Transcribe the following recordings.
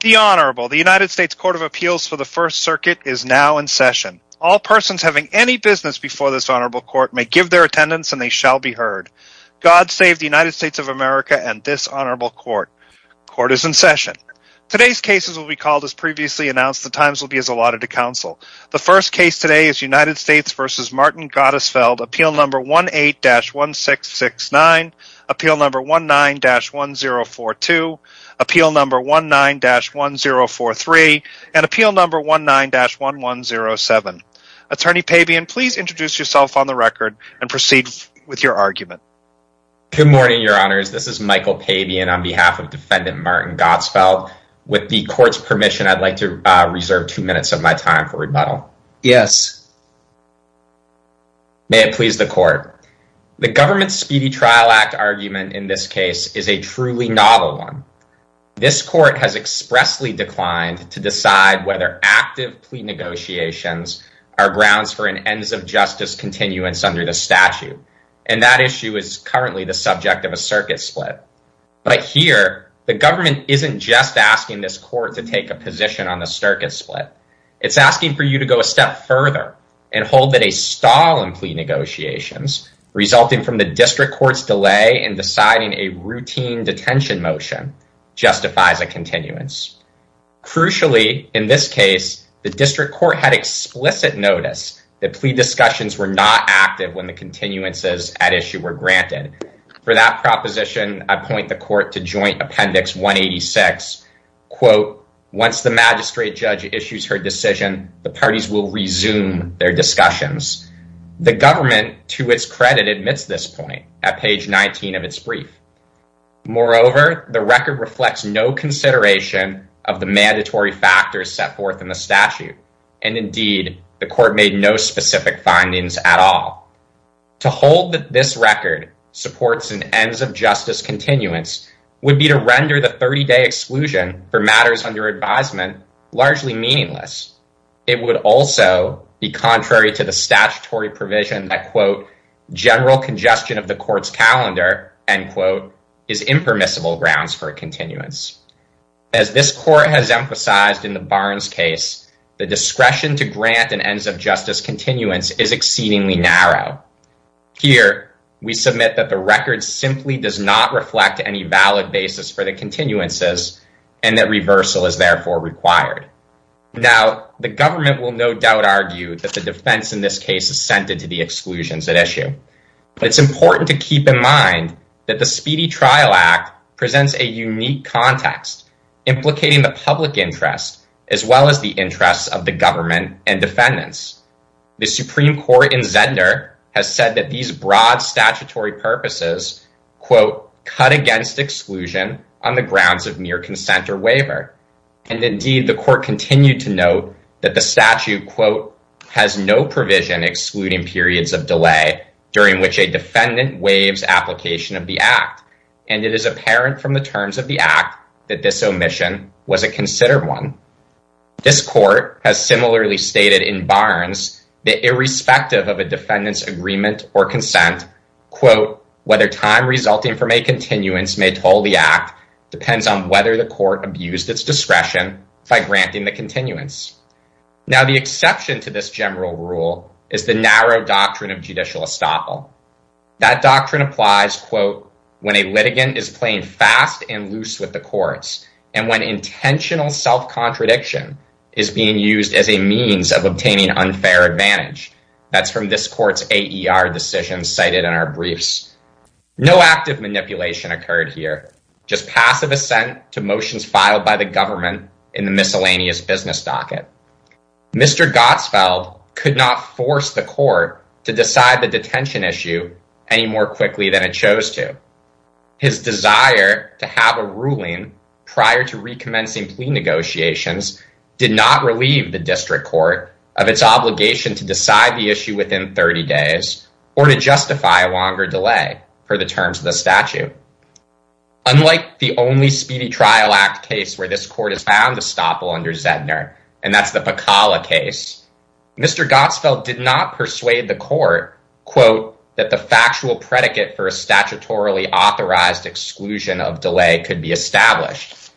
The Honorable, the United States Court of Appeals for the First Circuit is now in session. All persons having any business before this Honorable Court may give their attendance and they shall be heard. God save the United States of America and this Honorable Court. Court is in session. Today's cases will be called as previously announced. The times will be as allotted to counsel. The first case today is United States v. Martin Gottesfeld, Appeal No. 18-1669, Appeal No. 19-1042, Appeal No. 19-1043, and Appeal No. 19-1107. Attorney Pabian, please introduce yourself on the record and proceed with your argument. Good morning, Your Honors. This is Michael Pabian on behalf of Defendant Martin Gottesfeld. With the Court's permission, I'd like to reserve two minutes of my time for rebuttal. May it please the Court. The Government's Speedy Trial Act argument in this case is a truly novel one. This Court has expressly declined to decide whether active plea negotiations are grounds for an ends-of-justice continuance under the statute, and that issue is currently the subject of a circuit split. But here, the Government isn't just asking this Court to take a position on the circuit split. It's asking for you to go a step further and hold that a stall in plea negotiations, resulting from the District Court's delay in deciding a routine detention motion, justifies a continuance. Crucially, in this case, the District Court had explicit notice that plea discussions were not active when the continuances at issue were granted. For that magistrate judge issues her decision, the parties will resume their discussions. The Government, to its credit, admits this point at page 19 of its brief. Moreover, the record reflects no consideration of the mandatory factors set forth in the statute, and indeed, the Court made no specific findings at all. To hold that this record supports an ends-of-justice continuance would be to render the 30-day exclusion for matters under advisement largely meaningless. It would also be contrary to the statutory provision that, quote, general congestion of the Court's calendar, end quote, is impermissible grounds for a continuance. As this Court has emphasized in the Barnes case, the discretion to grant an ends-of-justice continuance is exceedingly narrow. Here, we submit that the record simply does not reflect any valid basis for the continuances and that reversal is therefore required. Now, the Government will no doubt argue that the defense in this case is centered to the exclusions at issue. It's important to keep in mind that the Speedy Trial Act presents a unique context, implicating the public interest as well as the interests of the purposes, quote, cut against exclusion on the grounds of mere consent or waiver, and indeed, the Court continued to note that the statute, quote, has no provision excluding periods of delay during which a defendant waives application of the Act, and it is apparent from the terms of the Act that this omission was a considered one. This Court has similarly stated in Barnes that irrespective of a defendant's agreement or consent, quote, whether time resulting from a continuance may toll the Act depends on whether the Court abused its discretion by granting the continuance. Now, the exception to this general rule is the narrow doctrine of judicial estoppel. That doctrine applies, quote, when a litigant is playing fast and loose with courts, and when intentional self-contradiction is being used as a means of obtaining unfair advantage. That's from this Court's AER decision cited in our briefs. No active manipulation occurred here, just passive assent to motions filed by the Government in the miscellaneous business docket. Mr. Gottsfeld could not force the Court to decide the detention issue any more quickly than it chose to. His desire to have a ruling prior to recommencing plea negotiations did not relieve the District Court of its obligation to decide the issue within 30 days or to justify a longer delay per the terms of the statute. Unlike the only Speedy Trial Act case where this Court has found estoppel under Zedner, and that's the Pakala case, Mr. Gottsfeld did not predicate for a statutorily authorized exclusion of delay could be established.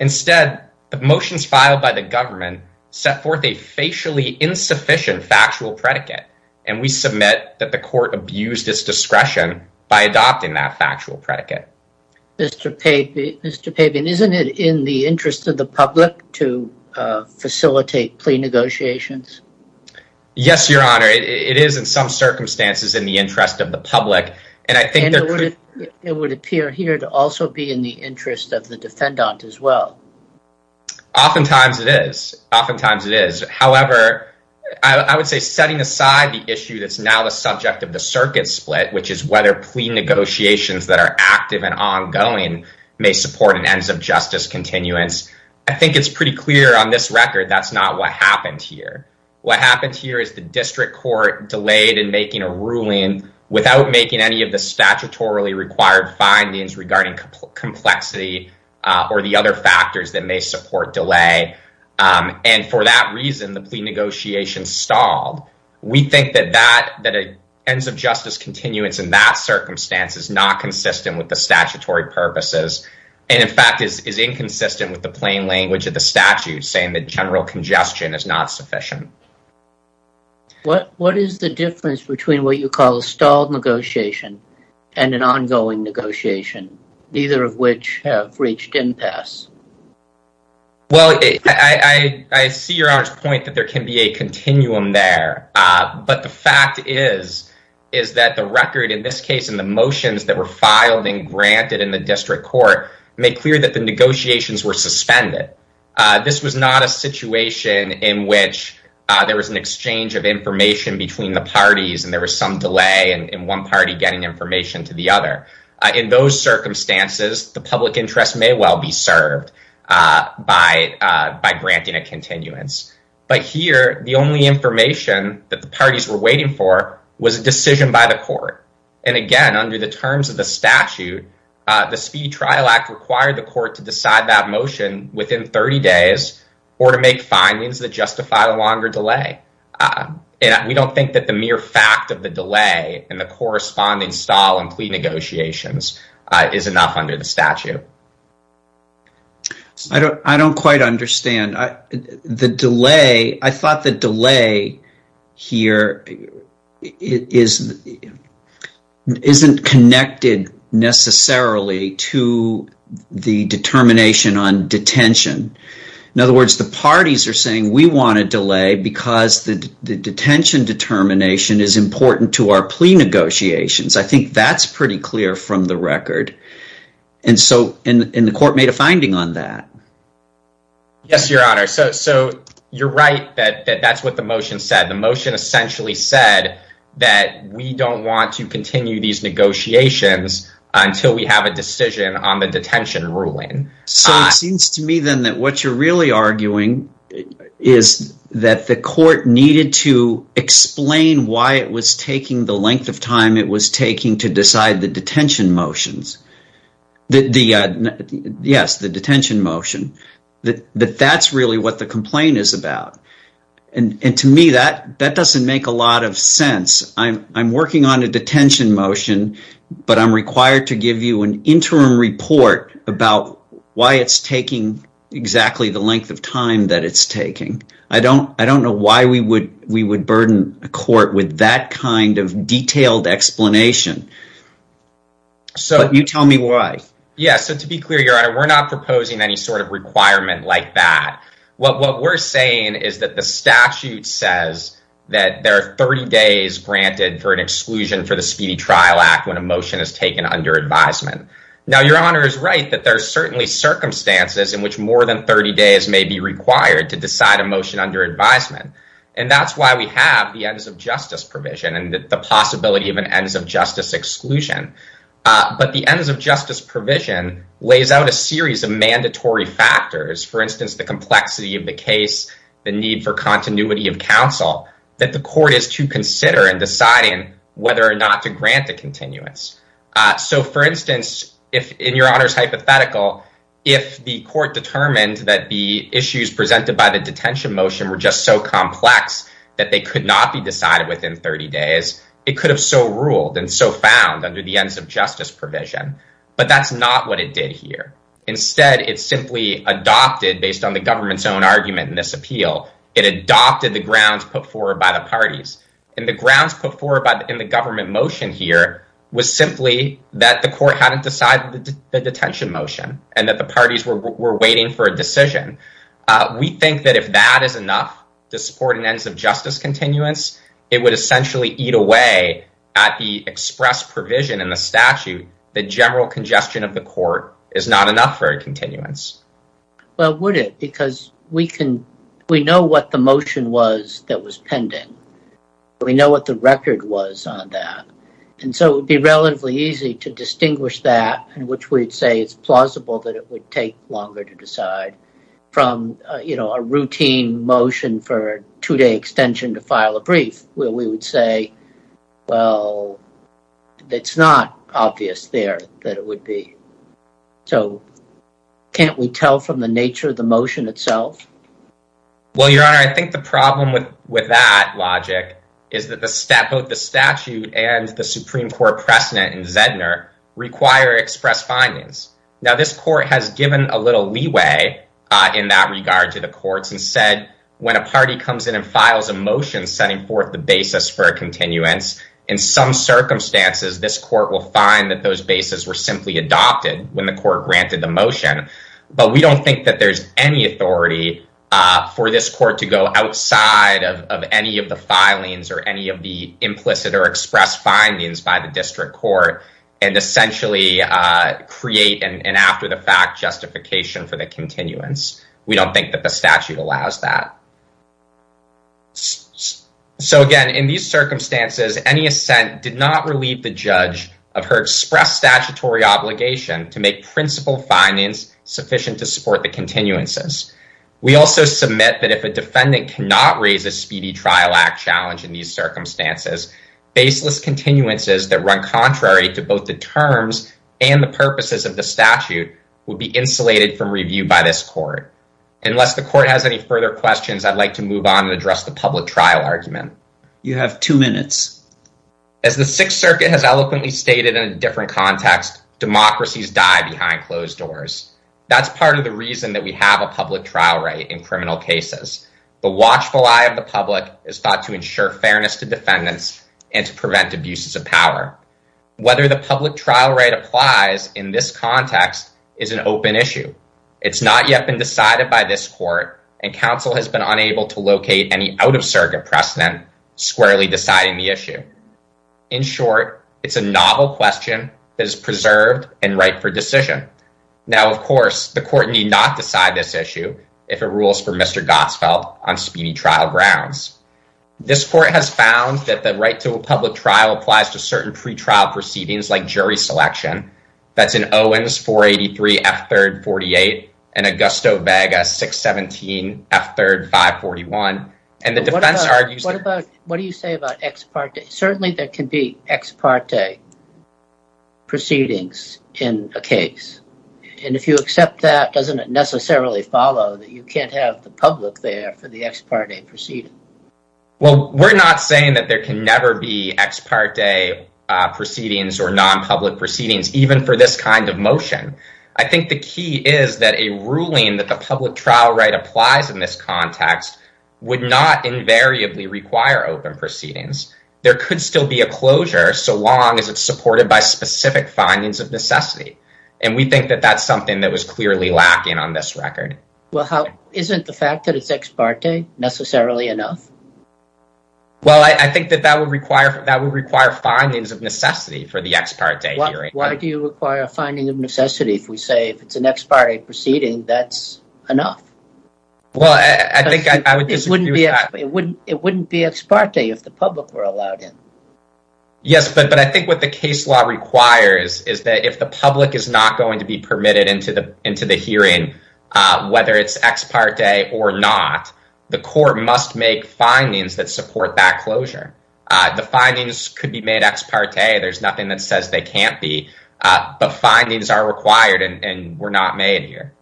Instead, the motions filed by the Government set forth a facially insufficient factual predicate, and we submit that the Court abused its discretion by adopting that factual predicate. Mr. Papian, isn't it in the interest of the public to facilitate plea negotiations? Yes, Your Honor, it is in some circumstances in the interest of the public. It would appear here to also be in the interest of the defendant as well. Oftentimes it is. However, I would say setting aside the issue that's now the subject of the circuit split, which is whether plea negotiations that are active and ongoing may support an ends of justice continuance, I think it's pretty clear on this record that's not what happened here. What happened here is the District Court delayed in making a ruling without making any of the statutorily required findings regarding complexity or the other factors that may support delay, and for that reason, the plea negotiations stalled. We think that an ends of justice continuance in that circumstance is not consistent with the statutory purposes, and in fact is inconsistent with the plain language of the statute, saying that general congestion is not sufficient. What is the difference between what you call a stalled negotiation and an ongoing negotiation, neither of which have reached impasse? Well, I see Your Honor's point that there can be a continuum there, but the fact is that the record, in this case, in the motions that were filed and granted in the District Court, made clear that the negotiations were suspended. This was not a situation in which there was an exchange of information between the parties and there was some delay in one party getting information to the other. In those circumstances, the public interest may well be served by granting a continuance, but here the only information that the parties were waiting for was a decision by the court, and again, under the terms of the statute, the Speed Trial Act required the court to decide that motion within 30 days or to make findings that justify a longer delay. We don't think that the mere fact of the delay and the corresponding stall in plea negotiations is enough under the statute. I don't quite understand. I thought the motion isn't connected necessarily to the determination on detention. In other words, the parties are saying, we want a delay because the detention determination is important to our plea negotiations. I think that's pretty clear from the record, and the court made a finding on that. Yes, Your Honor, so you're right that that's what the motion said. The motion essentially said that we don't want to continue these negotiations until we have a decision on the detention ruling. So it seems to me then that what you're really arguing is that the court needed to explain why it was taking the length of time it was taking to decide the detention motions. Yes, the detention motion. That's really what the complaint is about, and to me that doesn't make a lot of sense. I'm working on a detention motion, but I'm required to give you an interim report about why it's taking exactly the length of time that it's taking. I don't know why we would burden a court with that kind of detailed explanation, but you tell me why. Yes, so to be clear, Your Honor, we're not proposing any sort of requirement like that. What we're saying is that the statute says that there are 30 days granted for an exclusion for the Speedy Trial Act when a motion is taken under advisement. Now, Your Honor is right that there are certainly circumstances in which more than 30 days may be required to decide a motion under advisement, and that's why we have the ends of justice provision and the possibility of an ends of justice exclusion. But the ends of justice provision lays out a series of mandatory factors, for instance, the complexity of the case, the need for continuity of counsel that the court is to consider in deciding whether or not to grant a continuance. So, for instance, in Your Honor's hypothetical, if the court determined that the issues presented by the detention motion were just so complex that they could not be decided within 30 days, it could have so ruled and so found under the ends of justice provision, but that's not what it did here. Instead, it simply adopted, based on the government's own argument in this appeal, it adopted the grounds put forward by the parties. And the grounds put forward in the government motion here was simply that the court hadn't decided the detention motion and that the parties were waiting for a decision. We think that if that is enough to support an ends of justice continuance, it would essentially eat away at the express provision in the statute, the general congestion of the court is not enough for a continuance. Well, would it? Because we can, we know what the motion was that was pending. We know what the record was on that. And so it would be relatively easy to distinguish that in which we'd say it's plausible that it would take longer to decide from, you know, a routine motion for two day extension to file a brief where we would say, well, it's not obvious there that it would be. So can't we tell from the nature of the motion itself? Well, your honor, I think the problem with that logic is that the step of the statute and the Supreme Court precedent in Zedner require express findings. Now this court has given a little leeway in that regard to the courts and said, when a party comes in and files a motion, setting forth the basis for a continuance in some circumstances, this court will find that those bases were simply adopted when the court granted the motion. But we don't think that there's any authority for this court to go outside of any of the filings or any of the implicit or express findings by the district court and essentially create an after the fact justification for the continuance. We don't think that the statute allows that. So again, in these circumstances, any assent did not relieve the judge of her express statutory obligation to make principle findings sufficient to support the continuances. We also submit that if a defendant cannot raise a speedy trial act challenge in these circumstances, baseless continuances that run contrary to both the terms and the purposes of the statute would be insulated from review by this court. Unless the court has any further questions, I'd like to move on and address the public trial argument. You have two minutes. As the Sixth Circuit has eloquently stated in a different context, democracies die behind closed doors. That's part of the reason that we have a public trial right in criminal cases. The watchful eye of the public is thought to ensure fairness to defendants and to prevent abuses of power. Whether the public trial right applies in this context is an open issue. It's not yet been decided by this court, and counsel has been unable to locate any out-of-circuit precedent squarely deciding the issue. In short, it's a novel question that is preserved and ripe for decision. Now, of course, the court need not This court has found that the right to a public trial applies to certain pre-trial proceedings like jury selection. That's in Owens 483 F3 48 and Augusto Vega 617 F3 541. What do you say about ex parte? Certainly there can be ex parte proceedings in a case, and if you accept that, doesn't it necessarily follow that you can't have the public there for the ex parte proceeding? Well, we're not saying that there can never be ex parte proceedings or non-public proceedings, even for this kind of motion. I think the key is that a ruling that the public trial right applies in this context would not invariably require open proceedings. There could still be a closure so long as it's supported by specific findings of necessity, and we think that that's something that was clearly lacking on this record. Well, isn't the fact that it's ex parte necessarily enough? Well, I think that that would require findings of necessity for the ex parte hearing. Why do you require a finding of necessity if we say if it's an ex parte proceeding that's enough? Well, I think I would disagree with that. It wouldn't be ex parte if the public were allowed in. Yes, but I think what the case law requires is that if the public is not going to be permitted into the hearing, whether it's ex parte or not, the court must make findings that support that closure. The findings could be made ex parte. There's nothing that says they can't be, but findings are required and were not made here.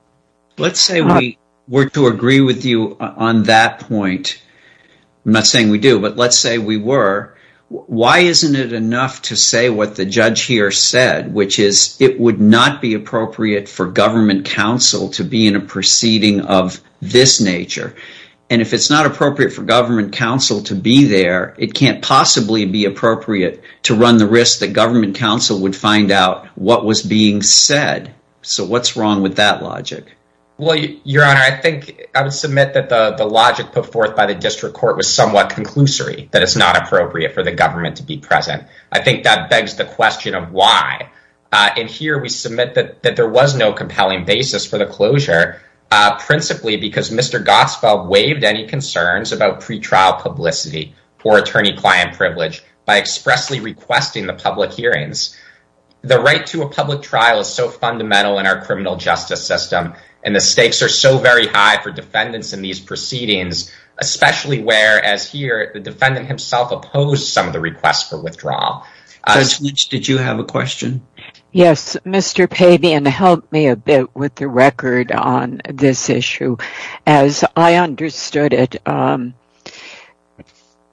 Let's say we were to agree with you on that point. I'm not saying we do, but let's say we were. Why isn't it enough to say what the judge here said, which is it would not be appropriate for government counsel to be in a proceeding of this nature? If it's not appropriate for government counsel to be there, it can't possibly be appropriate to run the risk that government counsel would find out what was being said. What's wrong with that logic? Your Honor, I think I would submit that the logic put forth by the district court was somewhat conclusory, that it's not appropriate for the government to be present. I think that begs the question, why? In here, we submit that there was no compelling basis for the closure, principally because Mr. Gospel waived any concerns about pre-trial publicity for attorney-client privilege by expressly requesting the public hearings. The right to a public trial is so fundamental in our criminal justice system, and the stakes are so very high for defendants in these proceedings, especially where, as here, the defendant himself opposed some of the requests for withdrawal. Judge Leach, did you have a question? Yes. Mr. Pavian, help me a bit with the record on this issue. As I understood it,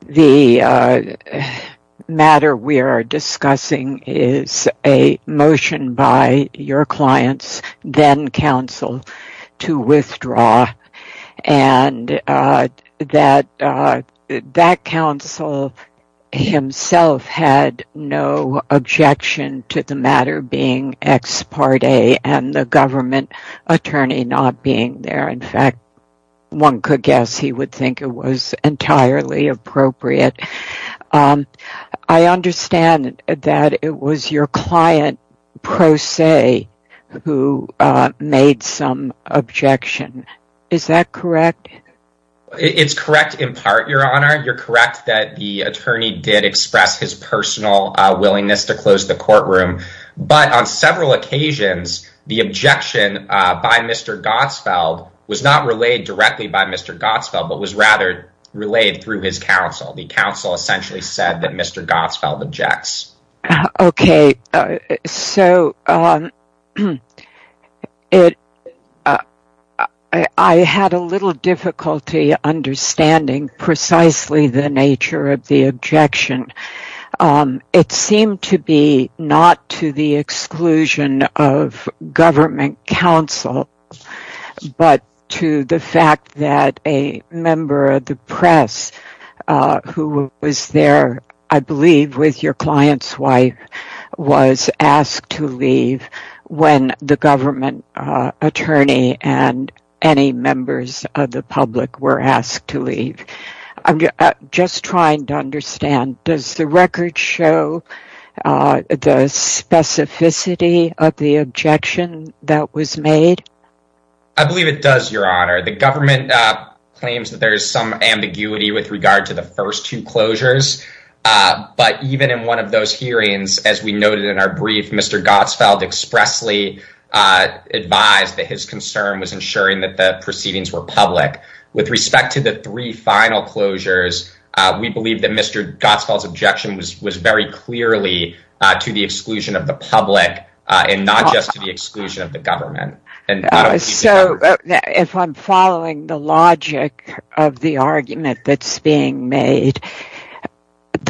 the matter we are discussing is a motion by your clients, then counsel, to withdraw, and that counsel himself had no objection to the matter being ex parte and the government attorney not being there. In fact, one could guess he would think it was entirely appropriate. I understand that it was your client, pro se, who made some objection. Is that correct? It's correct in part, Your Honor. You're correct that the attorney did express his personal willingness to close the courtroom, but on several occasions, the objection by Mr. Gospel was rather relayed through his counsel. The counsel essentially said that Mr. Gospel objects. Okay. I had a little difficulty understanding precisely the nature of the objection. It seemed to be not to the exclusion of government counsel, but to the fact that a member of the press who was there, I believe with your client's wife, was asked to leave when the government attorney and any members of the public were asked to leave. I'm just trying to understand. Does the record show the specificity of the objection that was made? I believe it does, Your Honor. The government claims that there is some ambiguity with regard to the first two closures, but even in one of those hearings, as we noted in our brief, Mr. Gospel expressly advised that his concern was ensuring that the proceedings were public. With respect to the three final closures, we believe that Mr. Gospel's objection was very clearly to the exclusion of the public and not just to the exclusion of the government. If I'm following the logic of the argument that's being made,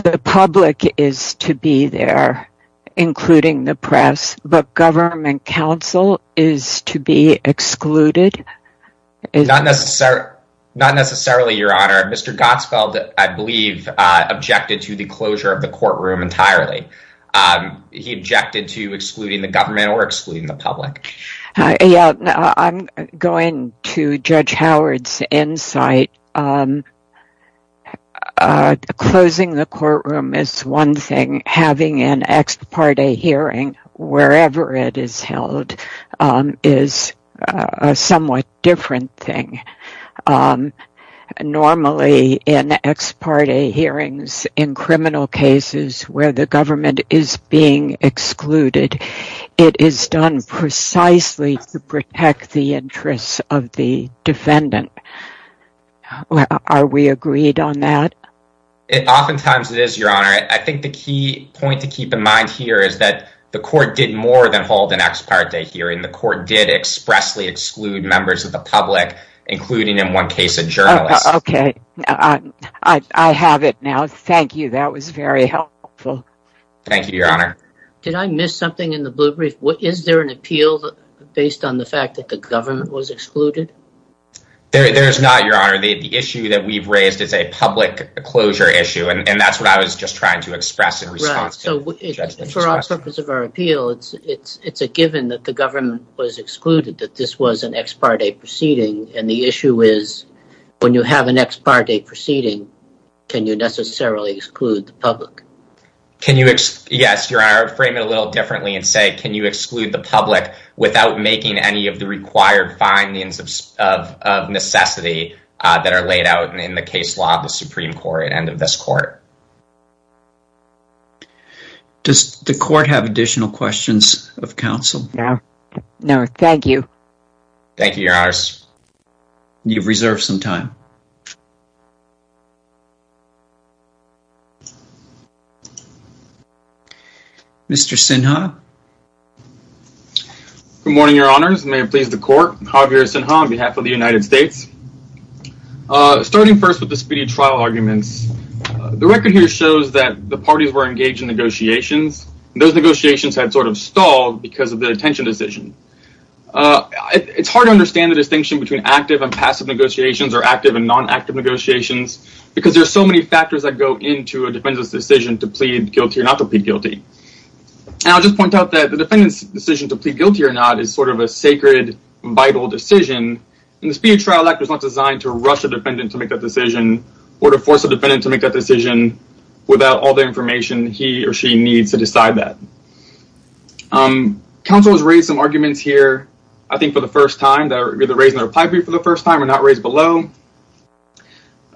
the public is to be there, including the press, but government counsel is to be excluded? Not necessarily, Your Honor. Mr. Gospel, I believe, objected to the closure of the courtroom entirely. He objected to excluding the government or excluding the public. Yeah, I'm going to Judge Howard's insight. Closing the courtroom is one thing. Having an ex parte hearing wherever it is held is a somewhat different thing. Normally, in ex parte hearings in criminal cases where the government is being excluded, it is done precisely to protect the interests of the defendant. Are we agreed on that? Oftentimes, it is, Your Honor. I think the key point to keep in mind here is that the court did more than hold an ex parte hearing. The court did expressly exclude members of the public, including, in one case, a journalist. Okay, I have it now. Thank you. That was very helpful. Thank you, Your Honor. Did I miss something in the blue brief? Is there an appeal based on the fact that the government was excluded? There is not, Your Honor. The issue that we've raised is a public closure issue, and that's what I was just trying to express in response to the judgment. For our purpose of our appeal, it's a given that the government was excluded, that this was an ex parte proceeding. The issue is, when you have an ex parte proceeding, can you necessarily exclude the public? Yes, Your Honor. Frame it a little differently and can you exclude the public without making any of the required findings of necessity that are laid out in the case law of the Supreme Court and of this court? Does the court have additional questions of counsel? No, thank you. Thank you, Your Honor. You've reserved some time. Mr. Sinha? Good morning, Your Honors. May it please the court, Javier Sinha on behalf of the United States. Starting first with the speedy trial arguments, the record here shows that the parties were engaged in negotiations. Those negotiations had sort of stalled because of the detention decision. It's hard to understand the distinction between active and passive negotiations, or active and non-active negotiations, because there's so many factors that go into a defendant's decision to plead guilty or not to plead guilty. And I'll just point out that the defendant's decision to plead guilty or not is sort of a sacred, vital decision, and the speedy trial act was not designed to rush a defendant to make that decision or to force a defendant to make that decision without all the information he or she needs to decide that. Counsel has raised some arguments here, I think for the first time, either raised in the reply brief for the first time or not raised below.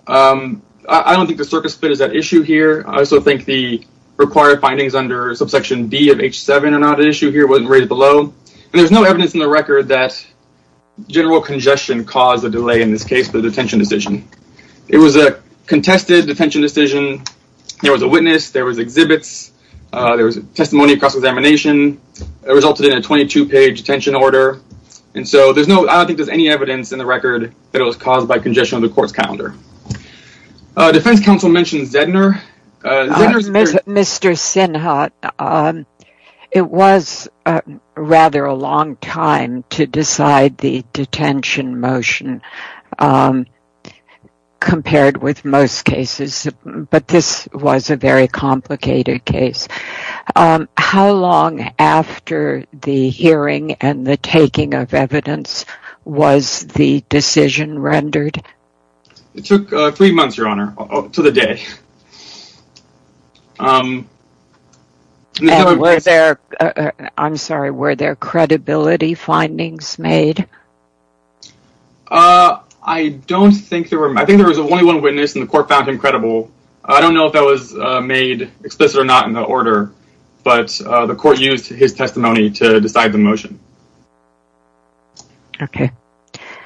I don't think the circuit split is at issue here. I also think the required findings under subsection D of H7 are not at issue here, it wasn't raised below. And there's no evidence in the record that general congestion caused the delay in this case for the detention decision. It was a contested detention decision. There was a witness, there was exhibits, there was testimony across examination. It resulted in a 22-page detention order. And so there's no, I don't think there's any evidence in the record that it was caused by congestion of the court's calendar. Defense counsel mentioned Zedner. Mr. Sinhat, it was rather a long time to decide the detention motion compared with most cases, but this was a very complicated case. How long after the hearing and the taking of evidence was the decision rendered? It took three months, Your Honor, to the day. And were there, I'm sorry, were there credibility findings made? I don't think there were. I think there was only one witness and the court found him credible. I don't know if that was made explicit or not in the order, but the court used his testimony to decide the motion. Okay.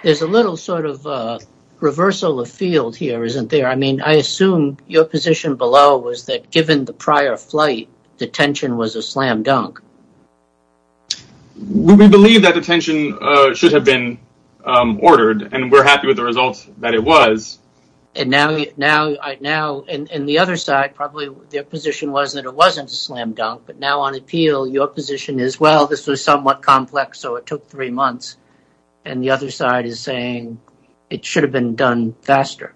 There's a little sort of reversal of field here, isn't there? I mean, I assume your position below was that given the prior flight, detention was a slam dunk. We believe that detention should have been ordered and we're happy with the results that it was. And now, and the other side, probably their position was that it wasn't a slam dunk, but now on appeal, your position is, well, this was somewhat complex, so it took three months. And the other side is saying it should have been done faster.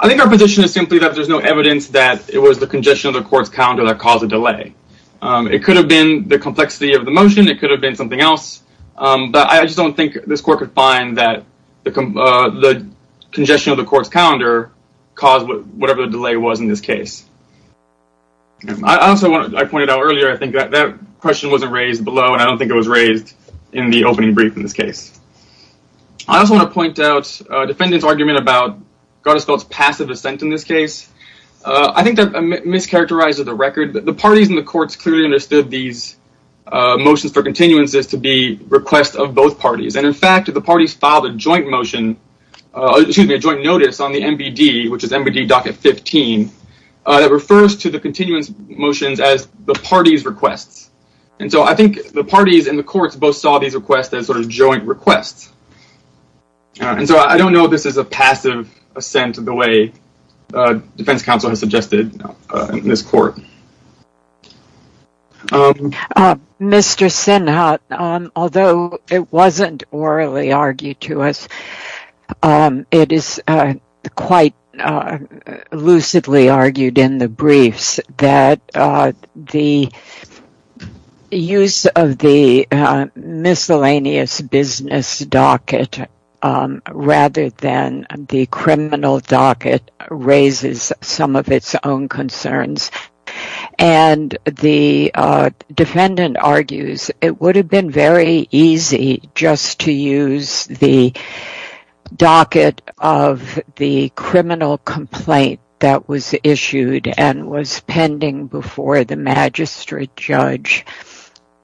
I think our position is simply that there's no evidence that it was the congestion of the court's calendar that caused the delay. It could have been the complexity of the motion. It could have been something else, but I just don't think this court could find that the congestion of the court's calendar caused whatever the delay was in this case. I also want to, I pointed out earlier, I think that question wasn't raised below and I don't think it was raised in the opening brief in this case. I also want to point out a defendant's argument about Gardisfeld's passive assent in this case. I think that mischaracterizes the record. The parties in the courts clearly understood these motions for continuances to be requests of both parties. And in fact, the parties filed a joint motion, excuse me, a joint notice on the NBD, which is NBD docket 15, that refers to the continuance motions as the party's requests. And so I think the parties in the courts both saw these requests as sort of joint requests. And so I don't know if this is a passive assent of the way defense counsel has suggested in this court. Mr. Sinha, although it wasn't orally argued to us, it is quite lucidly argued in the briefs that the use of the miscellaneous business docket rather than the criminal docket raises some of its own concerns. And the defendant argues it would have been very easy just to use the docket of the criminal complaint that was issued and was pending before the magistrate judge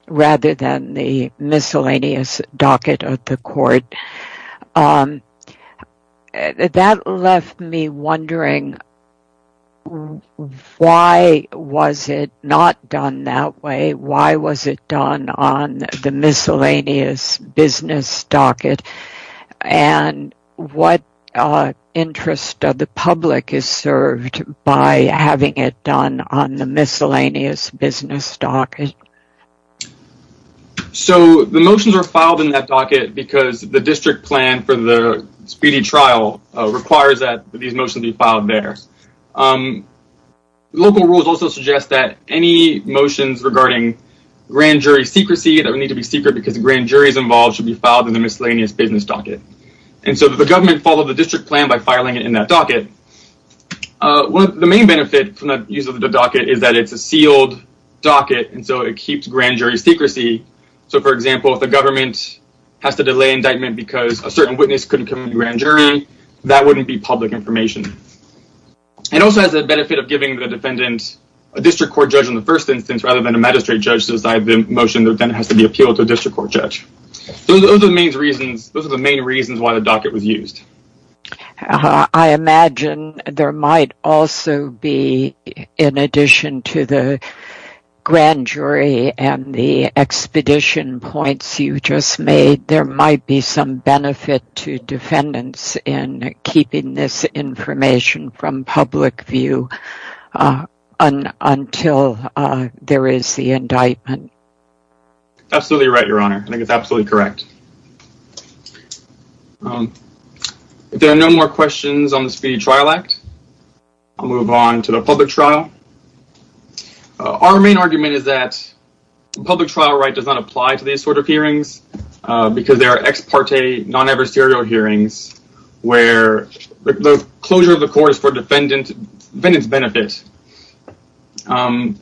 rather than the miscellaneous docket of the court. That left me wondering why was it not done that way? Why was it done on the miscellaneous business docket? And what interest of the public is served by having it done on the miscellaneous business docket? So the motions are filed in that docket because the district plan for the speedy trial requires that these motions be filed there. Local rules also suggest that any motions regarding grand jury secrecy that would need to be secret because the grand jury is involved should be filed in the miscellaneous business docket. And so the government followed the district plan by filing it in that docket. The main benefit from the use of the docket is that it's a sealed docket and so it keeps grand jury secrecy. So for example, if the government has to delay indictment because a certain witness couldn't come to the grand jury, that wouldn't be public information. It also has the benefit of giving the defendant a district court judge on the first instance rather than a magistrate motion that then has to be appealed to a district court judge. Those are the main reasons why the docket was used. I imagine there might also be, in addition to the grand jury and the expedition points you just made, there might be some benefit to defendants in keeping this information from indictment. Absolutely right, your honor. I think it's absolutely correct. If there are no more questions on the Speedy Trial Act, I'll move on to the public trial. Our main argument is that the public trial right does not apply to these sort of hearings because they are ex parte, non-adversarial hearings where the closure of the court is defendant's benefit. And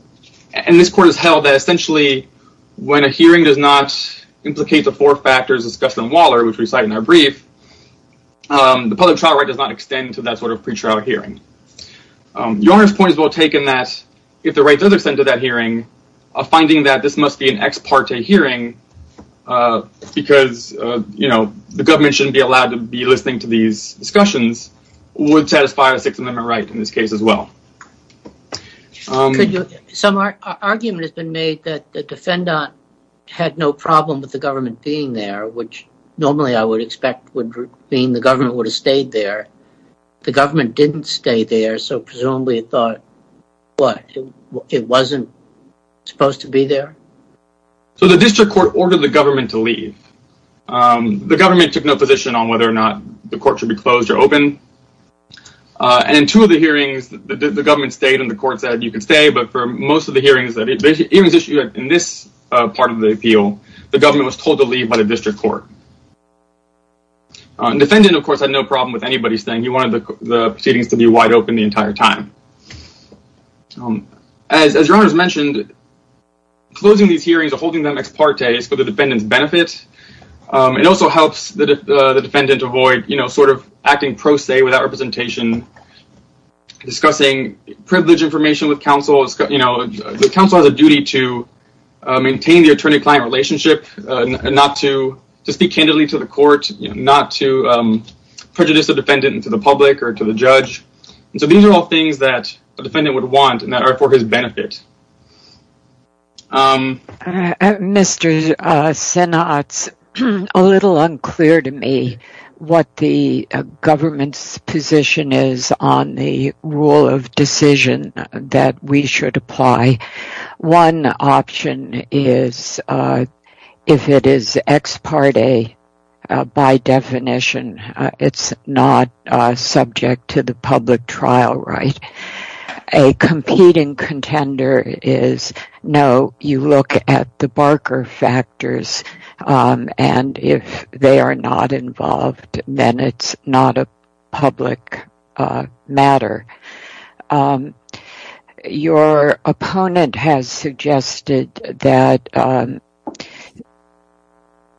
this court has held that essentially when a hearing does not implicate the four factors discussed in Waller, which we cite in our brief, the public trial right does not extend to that sort of pre-trial hearing. Your honor's point is well taken that if the right does extend to that hearing, a finding that this must be an ex parte hearing because the government shouldn't be allowed to be listening to these discussions would satisfy a Sixth Amendment right in this case as well. Some argument has been made that the defendant had no problem with the government being there, which normally I would expect would mean the government would have stayed there. The government didn't stay there, so presumably it thought it wasn't supposed to be there? So the district court ordered the government to leave. The government took no position on whether the court should be closed or open. In two of the hearings, the government stayed and the court said you can stay, but for most of the hearings issued in this part of the appeal, the government was told to leave by the district court. The defendant, of course, had no problem with anybody staying. He wanted the proceedings to be wide open the entire time. As your honor's mentioned, closing these hearings or holding them ex parte is for the defendant's benefit. It also helps the defendant avoid acting pro se without representation, discussing privilege information with counsel. The counsel has a duty to maintain the attorney-client relationship, not to speak candidly to the court, not to prejudice the defendant into the public or to the judge. These are all things that a defendant would want and that are for his benefit. Mr. Sinatz, it's a little unclear to me what the government's position is on the rule of decision that we should apply. One option is if it is ex parte by definition, it's not subject to the no, you look at the Barker factors and if they are not involved, then it's not a public matter. Your opponent has suggested that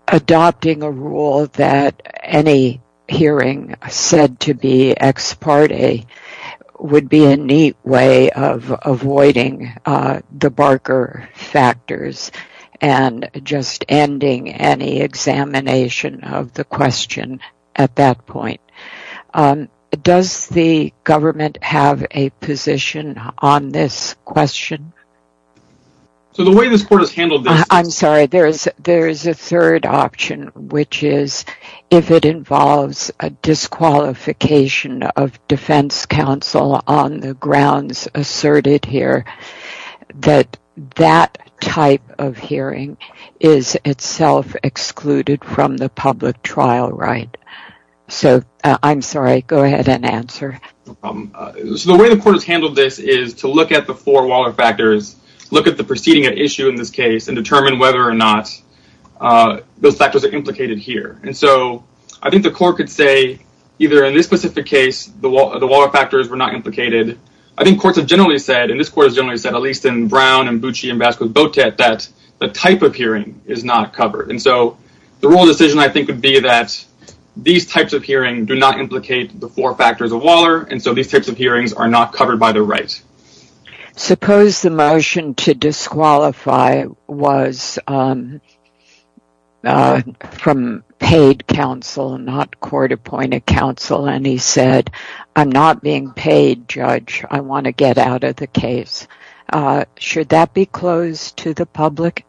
adopting a rule that any hearing said to be ex parte would be a neat way of avoiding the Barker factors and just ending any examination of the question at that point. Does the government have a position on this question? I'm sorry, there is a third option, which is if it involves a disqualification of defense counsel on the grounds asserted here, that that type of hearing is itself excluded from the public trial right. So I'm sorry, go ahead and answer. The way the court has handled this is to look at the four Waller factors, look at the proceeding at issue in this case and determine whether or not those factors are implicated here. And so I think the court could say either in this specific case, the Waller factors were not implicated. I think courts have generally said, and this court has generally said, at least in Brown and Bucci and Vasquez-Botet, that the type of hearing is not covered. And so the rule of decision I think would be that these types of hearings do not implicate the four factors of Waller and so these types of hearings are not covered by the right. Suppose the motion to disqualify was from paid counsel, not court-appointed counsel, and he said, I'm not being paid, judge. I want to get out of the case. Should that be closed to the public?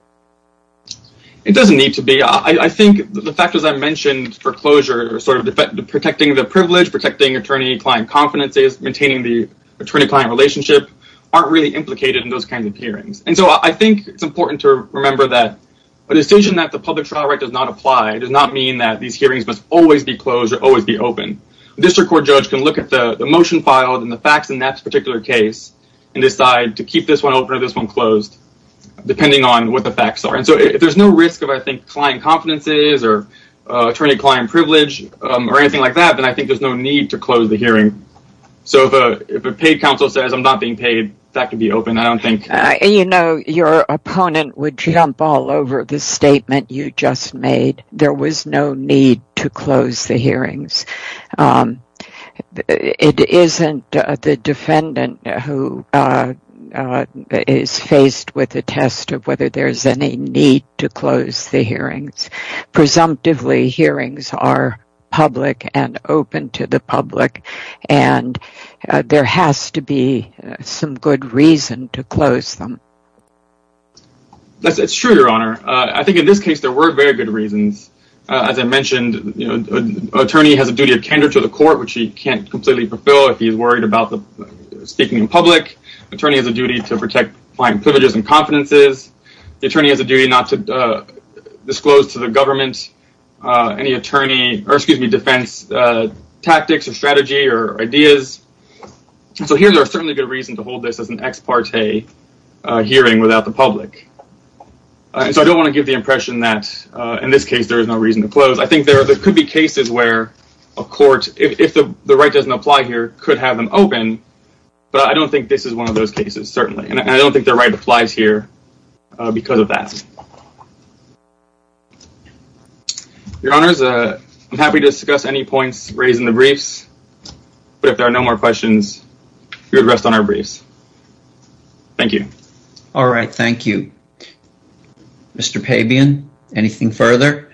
It doesn't need to be. I think the factors I mentioned for closure are sort of protecting the privilege, protecting attorney-client confidences, maintaining the attorney-client relationship aren't really implicated in those kinds of hearings. And so I think it's important to remember that a decision that the public trial right does not apply does not mean that these hearings must always be closed or always be open. A district court judge can look at the motion filed and the facts in that particular case and decide to keep this one open or this one closed depending on what the facts are. And so if there's no risk of, I think, client confidences or attorney-client privilege or anything like that, then I think there's no need to close the hearing. So if a paid counsel says, I'm not being paid, that could be open. I don't think... You know, your opponent would jump all over the statement you just made. There was no need to close the hearings. It isn't the defendant who is faced with the test of whether there's any need to close the hearings. Presumptively, hearings are public and open to the public and there has to be some good reason to close them. It's true, Your Honor. I think in this case, there were very good reasons. As I mentioned, an attorney has a duty of candor to the court, which he can't completely fulfill if he's worried about speaking in public. An attorney has a duty to protect client privileges and confidences. The attorney has a duty not to disclose to the government any attorney, or excuse me, defense tactics or strategy or ideas. So here, there are certainly good reasons to hold this as an ex parte hearing without the public. So I don't want to give the impression that, in this case, there is no reason to close. I think there could be cases where a court, if the right doesn't apply here, could have them open, but I don't think this is one of those cases, certainly. And I don't think the right applies here because of that. Your Honors, I'm happy to discuss any points raised in the briefs, but if there are no more questions, we would rest on our briefs. Thank you. All right. Thank you. Mr. Pabian, anything further?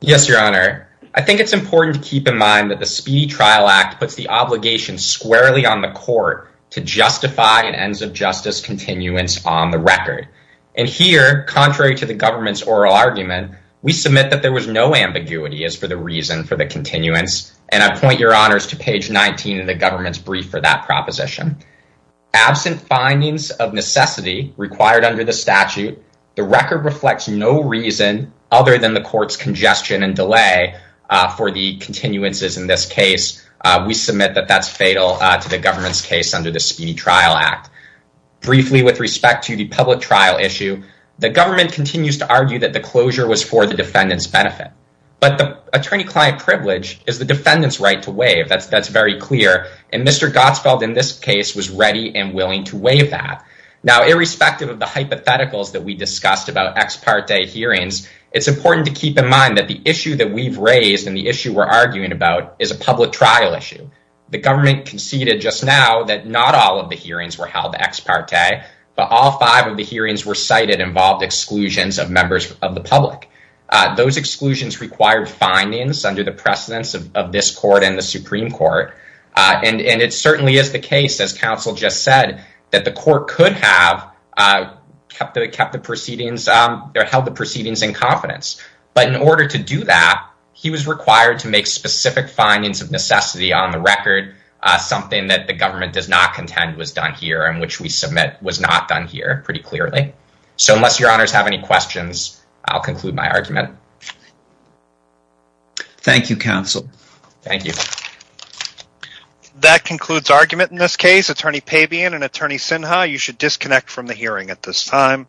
Yes, Your Honor. I think it's important to keep in mind that the Speedy Trial Act puts the obligation squarely on the court to justify an ends of justice continuance on the record. And here, contrary to the government's oral argument, we submit that there was no ambiguity as for the reason for the continuance, and I point Your Honors to page 19 of the government's brief for that proposition. Absent findings of necessity required under the statute, the record reflects no reason other than the court's congestion and delay for the continuances in this case. We submit that that's fatal to the government's case under the Speedy Trial Act. Briefly, with respect to the public trial issue, the government continues to argue that the closure was for the defendant's benefit, but the attorney-client privilege is the defendant's right to waive. That's very clear. And Mr. Gottsfeld, in this case, was ready and willing to waive that. Now, irrespective of the hypotheticals that we discussed about ex parte hearings, it's important to keep in mind that the issue that we've raised and the issue we're arguing about is a public trial issue. The government conceded just now that not all of the hearings were held ex parte, but all five of the hearings were cited involved exclusions of members of the public. Those exclusions required findings under the precedence of this court and Supreme Court. And it certainly is the case, as counsel just said, that the court could have held the proceedings in confidence. But in order to do that, he was required to make specific findings of necessity on the record, something that the government does not contend was done here and which we submit was not done here pretty clearly. So unless your honors have any questions, I'll conclude my argument. Thank you, counsel. Thank you. That concludes argument in this case. Attorney Pabian and Attorney Sinha, you should disconnect from the hearing at this time.